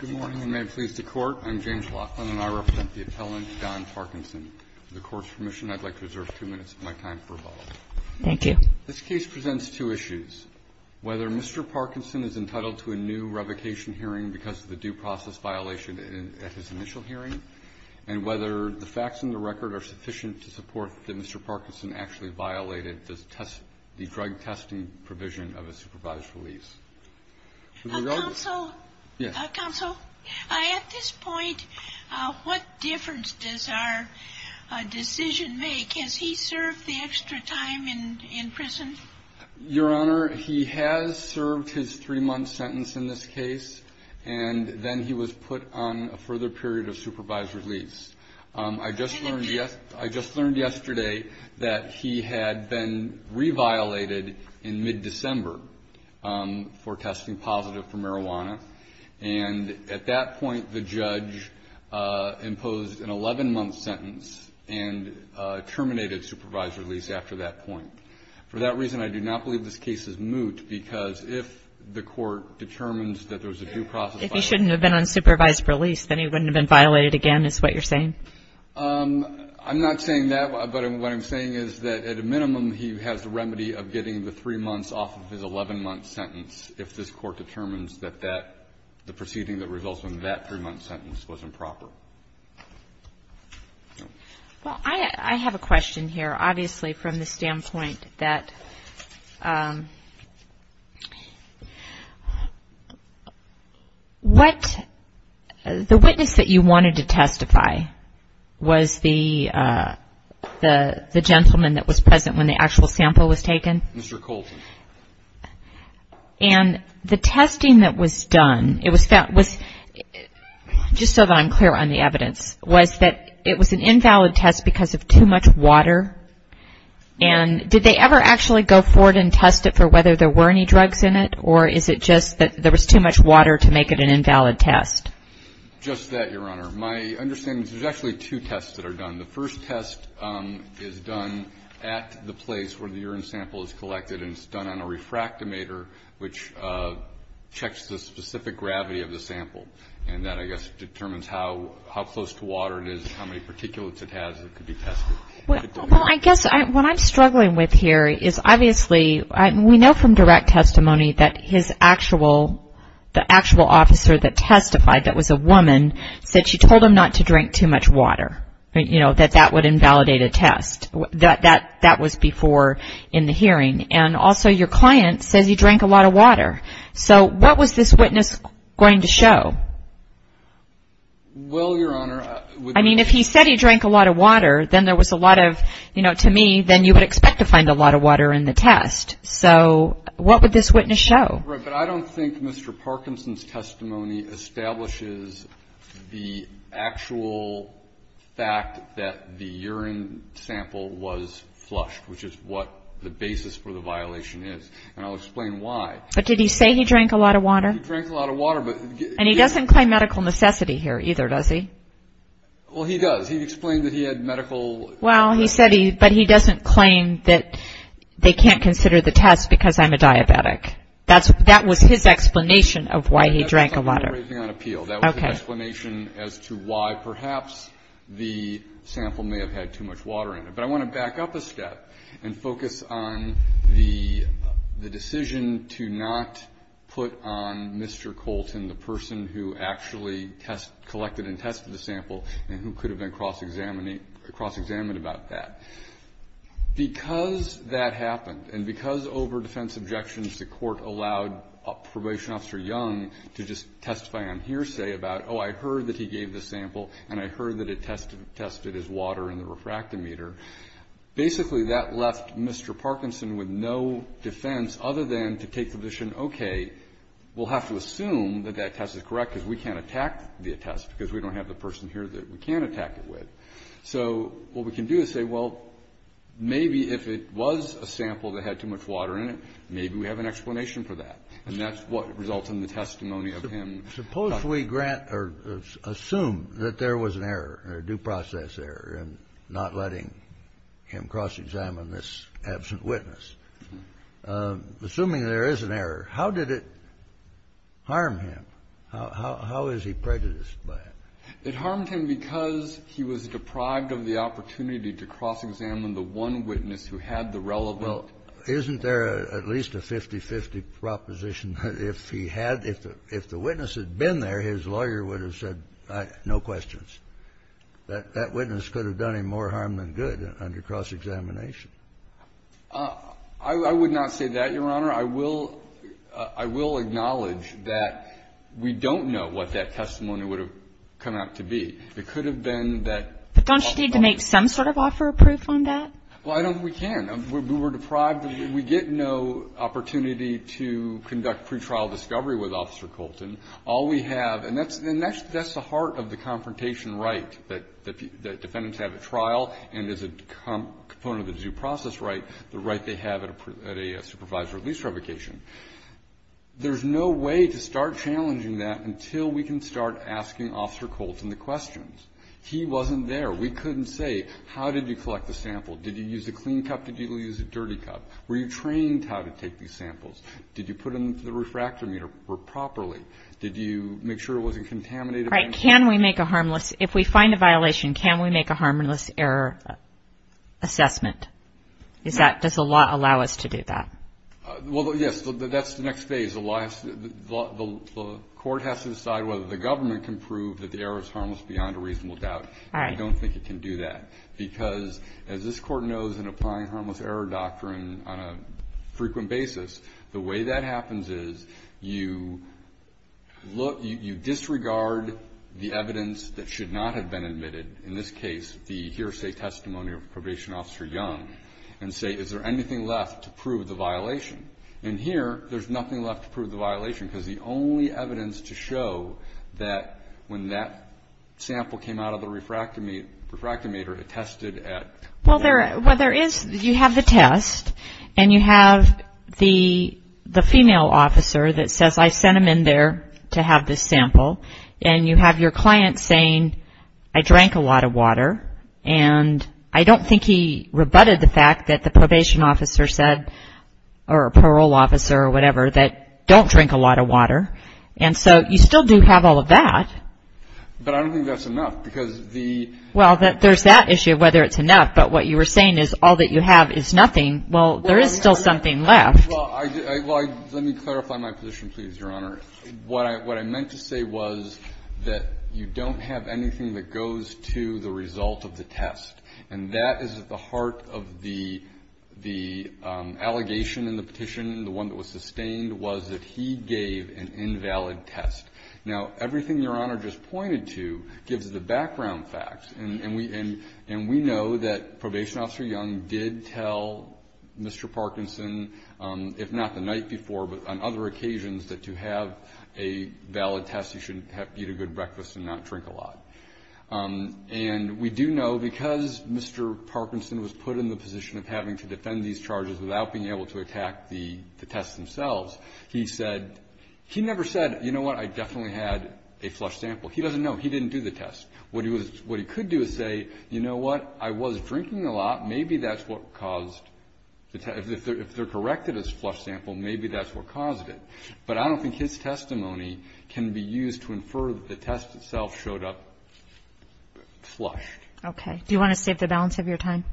Good morning, and may it please the Court, I am James Laughlin, and I represent the appellant Don Parkinson. With the Court's permission, I would like to reserve two minutes of my time for rebuttal. Thank you. This case presents two issues. Whether Mr. Parkinson is entitled to a new revocation hearing because of the due process violation at his initial hearing, and whether the facts in the record are sufficient to support that Mr. Parkinson actually violated the drug testing provision of a supervised release. Counsel, at this point, what difference does our decision make? Has he served the extra time in prison? Your Honor, he has served his three-month sentence in this case, and then he was put on a further period of supervised release. I just learned yesterday that he had been reviolated in mid-December for testing positive for marijuana, and at that point the judge imposed an 11-month sentence and terminated supervised release after that point. For that reason, I do not believe this case is moot, because if the Court determines that there's a due process violation and he shouldn't have been on supervised release, then he wouldn't have been violated again, is what you're saying? I'm not saying that, but what I'm saying is that, at a minimum, he has the remedy of getting the three months off of his 11-month sentence, if this Court determines that the proceeding that results from that three-month sentence was improper. Well, I have a question here, obviously, from the standpoint that what the witness that you wanted to testify was the gentleman that was present when the actual sample was taken? Mr. Colton. And the testing that was done, just so that I'm clear on the evidence, was that it was an invalid test because of too much water, and did they ever actually go forward and test it for whether there were any drugs in it, or is it just that there was too much water to make it an invalid test? Just that, Your Honor. My understanding is there's actually two tests that are done. The first test is done at the place where the urine sample is collected, and it's done on a refractometer, which checks the specific gravity of the sample, and that, I guess, determines how close to water it is, how many particulates it has that could be tested. Well, I guess what I'm struggling with here is, obviously, we know from direct testimony that the actual officer that testified, that was a woman, said she told him not to drink too much water. You know, that that would invalidate a test. That was before in the hearing. And also your client says he drank a lot of water. So what was this witness going to show? Well, Your Honor. I mean, if he said he drank a lot of water, then there was a lot of, you know, to me, then you would expect to find a lot of water in the test. So what would this witness show? But I don't think Mr. Parkinson's testimony establishes the actual fact that the urine sample was flushed, which is what the basis for the violation is, and I'll explain why. But did he say he drank a lot of water? He drank a lot of water. And he doesn't claim medical necessity here either, does he? Well, he does. He explained that he had medical necessity. Well, he said he, but he doesn't claim that they can't consider the test because I'm a diabetic. That was his explanation of why he drank a lot of water. That was his explanation as to why perhaps the sample may have had too much water in it. But I want to back up a step and focus on the decision to not put on Mr. Colton, the person who actually collected and tested the sample and who could have been cross-examined about that. Because that happened and because over defense objections the court allowed Probation Officer Young to just testify on hearsay about, oh, I heard that he gave the sample and I heard that it tested his water in the refractometer, basically that left Mr. Parkinson with no defense other than to take the position, okay, we'll have to assume that that test is correct because we can't attack the test because we don't have the person here that we can attack it with. So what we can do is say, well, maybe if it was a sample that had too much water in it, maybe we have an explanation for that. And that's what results in the testimony of him. Suppose we grant or assume that there was an error, a due process error, in not letting him cross-examine this absent witness. Assuming there is an error, how did it harm him? How is he prejudiced by it? It harmed him because he was deprived of the opportunity to cross-examine the one witness who had the relevant ---- Well, isn't there at least a 50-50 proposition that if he had, if the witness had been there, his lawyer would have said, no questions, that that witness could have done him more harm than good under cross-examination? I would not say that, Your Honor. Your Honor, I will acknowledge that we don't know what that testimony would have come out to be. It could have been that ---- But don't you need to make some sort of offer of proof on that? Well, I don't think we can. We were deprived. We get no opportunity to conduct pretrial discovery with Officer Colton. All we have, and that's the heart of the confrontation right that defendants have at trial, and as a component of the due process right, the right they have at a supervisory release revocation. There's no way to start challenging that until we can start asking Officer Colton the questions. He wasn't there. We couldn't say, how did you collect the sample? Did you use a clean cup? Did you use a dirty cup? Were you trained how to take these samples? Did you put them in the refractor meter properly? Did you make sure it wasn't contaminated? Right. Can we make a harmless, if we find a violation, can we make a harmless error assessment? Does the law allow us to do that? Well, yes. That's the next phase. The court has to decide whether the government can prove that the error is harmless beyond a reasonable doubt. I don't think it can do that because, as this Court knows, in applying harmless error doctrine on a frequent basis, the way that happens is you look, you disregard the evidence that should not have been admitted, in this case the hearsay testimony of Probation Officer Young, and say, is there anything left to prove the violation? And here, there's nothing left to prove the violation because the only evidence to show that when that sample came out of the refractor meter, it tested at. Well, there is. You have the test, and you have the female officer that says, I sent him in there to have this sample, and you have your client saying, I drank a lot of water, and I don't think he rebutted the fact that the probation officer said, or a parole officer or whatever, that don't drink a lot of water. And so you still do have all of that. There's that issue of whether it's enough, but what you were saying is all that you have is nothing. Well, there is still something left. Well, let me clarify my position, please, Your Honor. What I meant to say was that you don't have anything that goes to the result of the test. And that is at the heart of the allegation in the petition. The one that was sustained was that he gave an invalid test. Now, everything Your Honor just pointed to gives the background facts. And we know that Probation Officer Young did tell Mr. Parkinson, if not the night before but on other occasions, that to have a valid test you should eat a good breakfast and not drink a lot. And we do know because Mr. Parkinson was put in the position of having to defend these charges without being able to attack the tests themselves, he said, he never said, you know what, I definitely had a flush sample. He doesn't know. He didn't do the test. What he could do is say, you know what, I was drinking a lot. Maybe that's what caused the test. If they're corrected as a flush sample, maybe that's what caused it. But I don't think his testimony can be used to infer that the test itself showed up flushed. Okay. Do you want to save the balance of your time?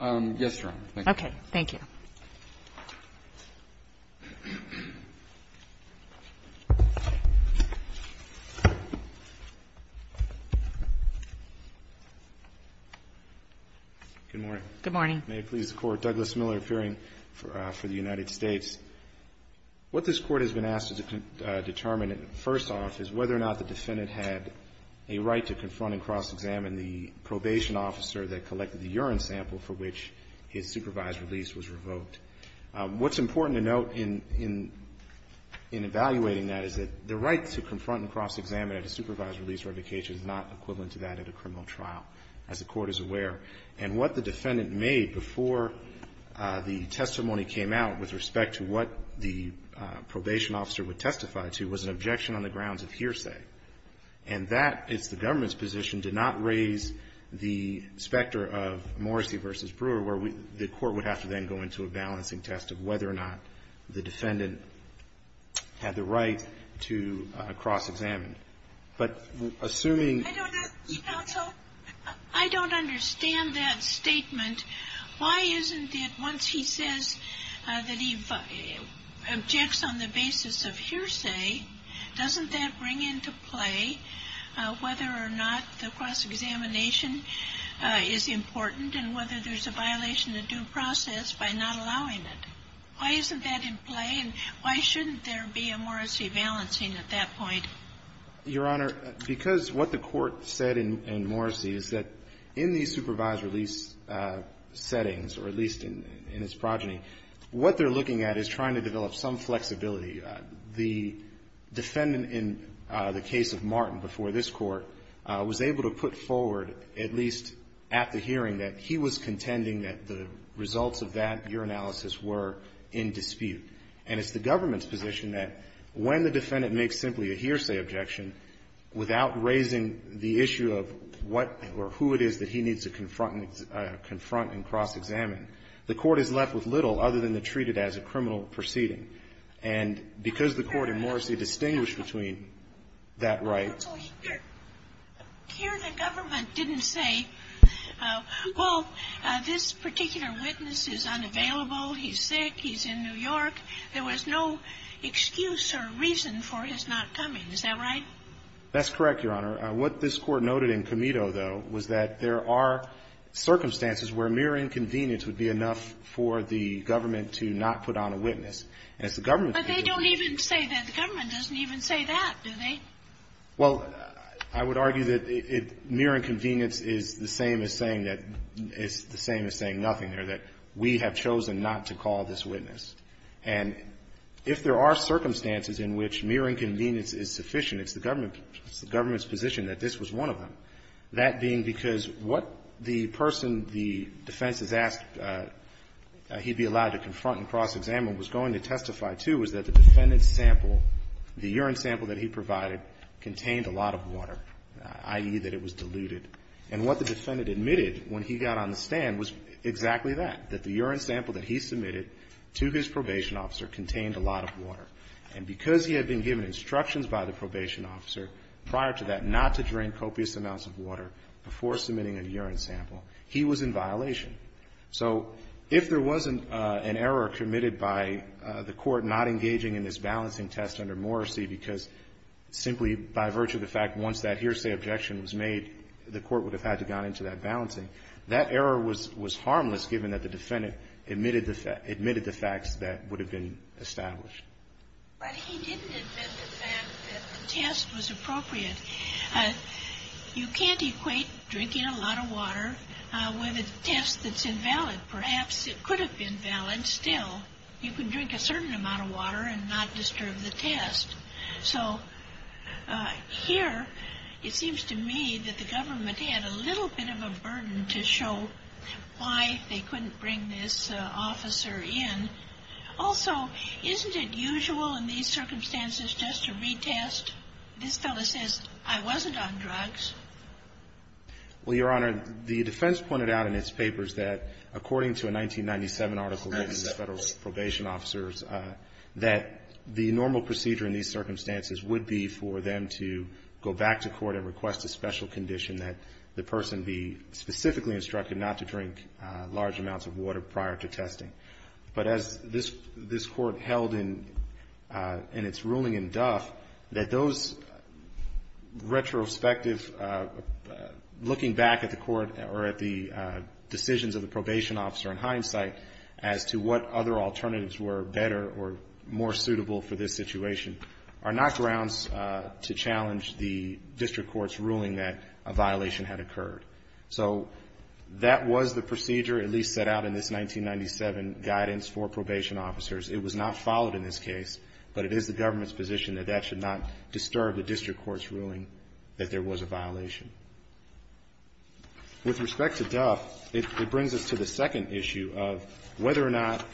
Yes, Your Honor. Thank you. Thank you. Good morning. Good morning. May it please the Court. Douglas Miller, appearing for the United States. What this Court has been asked to determine first off is whether or not the defendant had a right to confront and cross-examine the probation officer that collected the urine sample for which his supervised release was revoked. What's important to note in evaluating that is that the right to confront and cross-examine at a supervised release or revocation is not equivalent to that at a criminal trial, as the Court is aware. And what the defendant made before the testimony came out with respect to what the probation officer would testify to was an objection on the grounds of hearsay. And that is the government's position to not raise the specter of Morrissey v. Brewer, where the Court would have to then go into a balancing test of whether or not the defendant had the right to cross-examine. But assuming ---- I don't understand that statement. Why isn't it once he says that he objects on the basis of hearsay, doesn't that bring into play whether or not the cross-examination is important and whether there's a violation of due process by not allowing it? Why isn't that in play, and why shouldn't there be a Morrissey balancing at that point? Your Honor, because what the Court said in Morrissey is that in the supervised release settings, or at least in its progeny, what they're looking at is trying to develop some flexibility. The defendant in the case of Martin before this Court was able to put forward, at least at the hearing, that he was contending that the results of that urinalysis were in dispute. And it's the government's position that when the defendant makes simply a hearsay objection without raising the issue of what or who it is that he needs to confront and cross-examine, the Court is left with little other than to treat it as a criminal proceeding. And because the Court in Morrissey distinguished between that right. Here the government didn't say, well, this particular witness is unavailable, he's sick, he's in New York. There was no excuse or reason for his not coming. Is that right? That's correct, Your Honor. What this Court noted in Comito, though, was that there are circumstances where mere inconvenience would be enough for the government to not put on a witness. And it's the government's position. But they don't even say that. The government doesn't even say that, do they? Well, I would argue that mere inconvenience is the same as saying that the same as saying nothing there, that we have chosen not to call this witness. And if there are circumstances in which mere inconvenience is sufficient, it's the government's position that this was one of them. That being because what the person the defense has asked he be allowed to confront and cross-examine was going to testify to was that the defendant's sample, the urine sample that he provided contained a lot of water, i.e., that it was diluted. And what the defendant admitted when he got on the stand was exactly that, that the urine sample that he submitted to his probation officer contained a lot of water. And because he had been given instructions by the probation officer prior to that not to drink copious amounts of water before submitting a urine sample, he was in violation. So if there wasn't an error committed by the court not engaging in this balancing test under Morrissey because simply by virtue of the fact once that hearsay objection was made, the court would have had to have gone into that balancing, that error was But he didn't admit the fact that the test was appropriate. You can't equate drinking a lot of water with a test that's invalid. Perhaps it could have been valid still. You can drink a certain amount of water and not disturb the test. So here it seems to me that the government had a little bit of a burden to show why they couldn't bring this officer in. Also, isn't it usual in these circumstances just to retest? This fellow says, I wasn't on drugs. Well, Your Honor, the defense pointed out in its papers that according to a 1997 article written to federal probation officers, that the normal procedure in these circumstances would be for them to go back to court and request a special condition that the person be specifically instructed not to drink large amounts of water prior to testing. But as this court held in its ruling in Duff, that those retrospective looking back at the court or at the decisions of the probation officer in hindsight as to what other alternatives were better or more suitable for this situation are not grounds to challenge the district court's ruling that a violation had occurred. So that was the procedure at least set out in this 1997 guidance for probation officers. It was not followed in this case, but it is the government's position that that should not disturb the district court's ruling that there was a violation. With respect to Duff, it brings us to the second issue of whether or not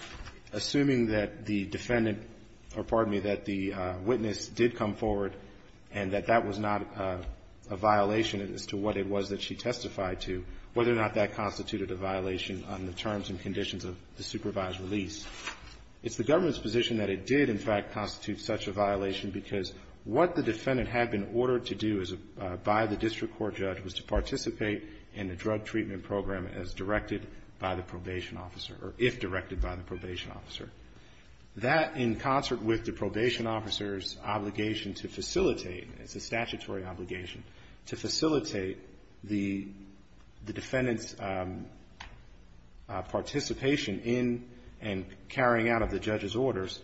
assuming that the defendant or, pardon me, that the witness did come forward and that that was not a violation as to what it was that she testified to, whether or not that constituted a violation on the terms and conditions of the supervised release. It's the government's position that it did in fact constitute such a violation because what the defendant had been ordered to do by the district court judge was to participate in the drug treatment program as directed by the probation officer or if directed by the probation officer. That in concert with the probation officer's obligation to facilitate, it's a statutory obligation, to facilitate the defendant's participation in and carrying out of the judge's orders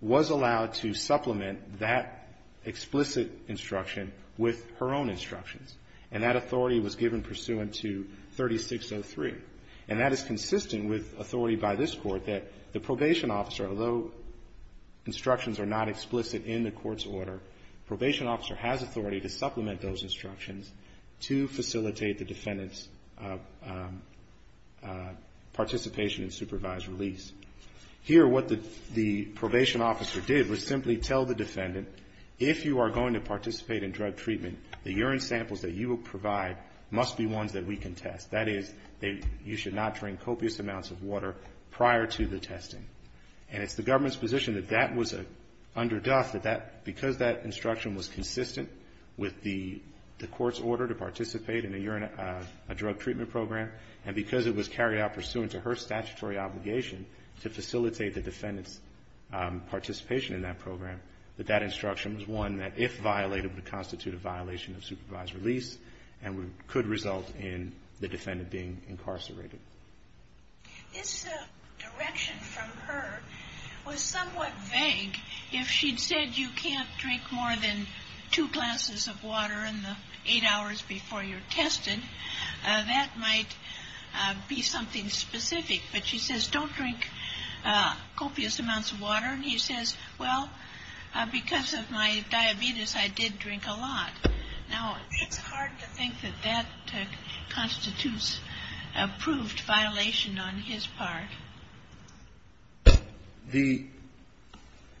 was allowed to supplement that explicit instruction with her own instructions. And that authority was given pursuant to 3603. And that is consistent with authority by this Court that the probation officer, although instructions are not explicit in the court's order, probation officer has authority to supplement those instructions to facilitate the defendant's participation in supervised release. Here what the probation officer did was simply tell the defendant, if you are going to participate in drug treatment, the urine samples that you will provide must be ones that we can test. That is, you should not drink copious amounts of water prior to the testing. And it's the government's position that that was under death, that because that instruction was consistent with the court's order to participate in a drug treatment program, and because it was carried out pursuant to her statutory obligation to facilitate the defendant's participation in that program, that that instruction was one that, if violated, would constitute a violation of supervised release and could result in the defendant being incarcerated. This direction from her was somewhat vague. If she'd said you can't drink more than two glasses of water in the eight hours before you're tested, that might be something specific. But she says, don't drink copious amounts of water. And he says, well, because of my diabetes, I did drink a lot. Now, it's hard to think that that constitutes a proved violation on his part.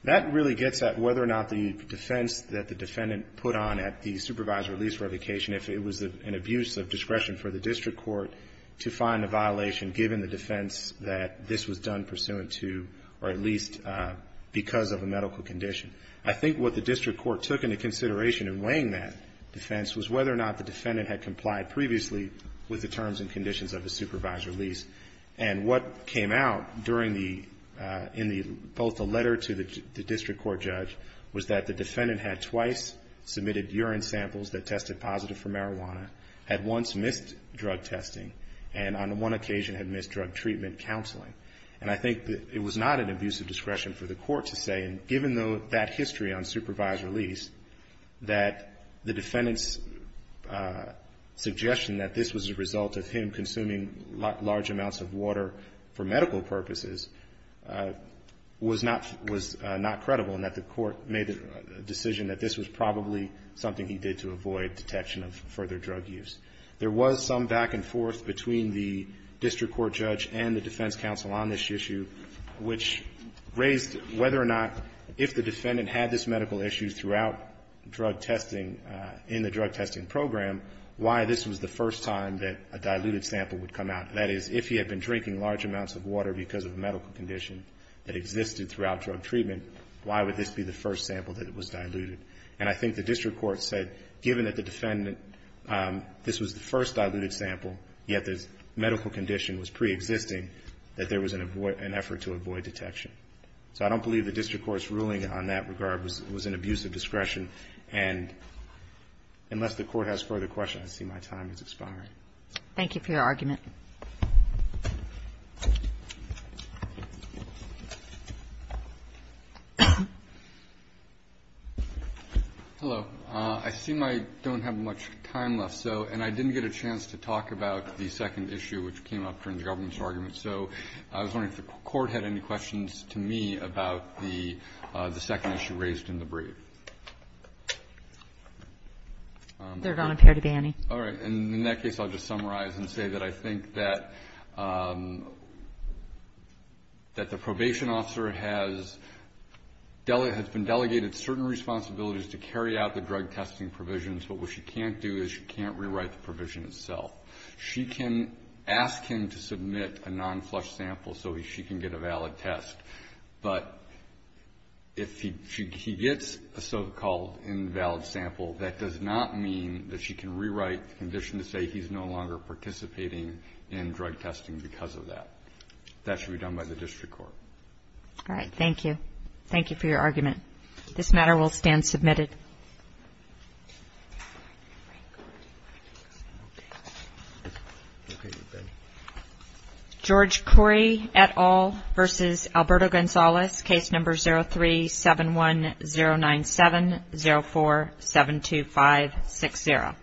That really gets at whether or not the defense that the defendant put on at the supervised release or revocation, if it was an abuse of discretion for the district court, to find a violation given the defense that this was done pursuant to or at least because of a medical condition. I think what the district court took into consideration in weighing that defense was whether or not the defendant had complied previously with the terms and conditions of the supervised release. And what came out in both the letter to the district court judge was that the defendant had twice submitted urine samples that tested positive for marijuana, had once missed drug testing, and on one occasion had missed drug treatment counseling. And I think that it was not an abuse of discretion for the court to say, given that history on supervised release, that the defendant's suggestion that this was a result of him consuming large amounts of water for medical purposes was not credible and that the court made the decision that this was probably something he did to avoid detection of further drug use. There was some back and forth between the district court judge and the defense counsel on this issue which raised whether or not if the defendant had this medical issue throughout drug testing in the drug testing program, why this was the first time that a diluted sample would come out. That is, if he had been drinking large amounts of water because of a medical condition that existed throughout drug treatment, why would this be the first sample that was diluted? And I think the district court said, given that the defendant, this was the first diluted sample, yet the medical condition was preexisting, that there was an effort to avoid detection. So I don't believe the district court's ruling on that regard was an abuse of discretion. And unless the court has further questions, I see my time is expiring. Thank you for your argument. Hello. I seem I don't have much time left, so, and I didn't get a chance to talk about the second issue which came up during the government's argument. So I was wondering if the Court had any questions to me about the second issue raised in the brief. There don't appear to be any. All right. In that case, I'll just summarize and say that I think that the probation officer has been delegated certain responsibilities to carry out the drug testing provisions, but what she can't do is she can't rewrite the provision itself. She can ask him to submit a non-flush sample so she can get a valid test, but if he gets a so-called invalid sample, that does not mean that she can rewrite the condition to say he's no longer participating in drug testing because of that. That should be done by the district court. All right. Thank you. Thank you for your argument. This matter will stand submitted. George Corey et al. v. Alberto Gonzalez, Case Number 03-710970472560.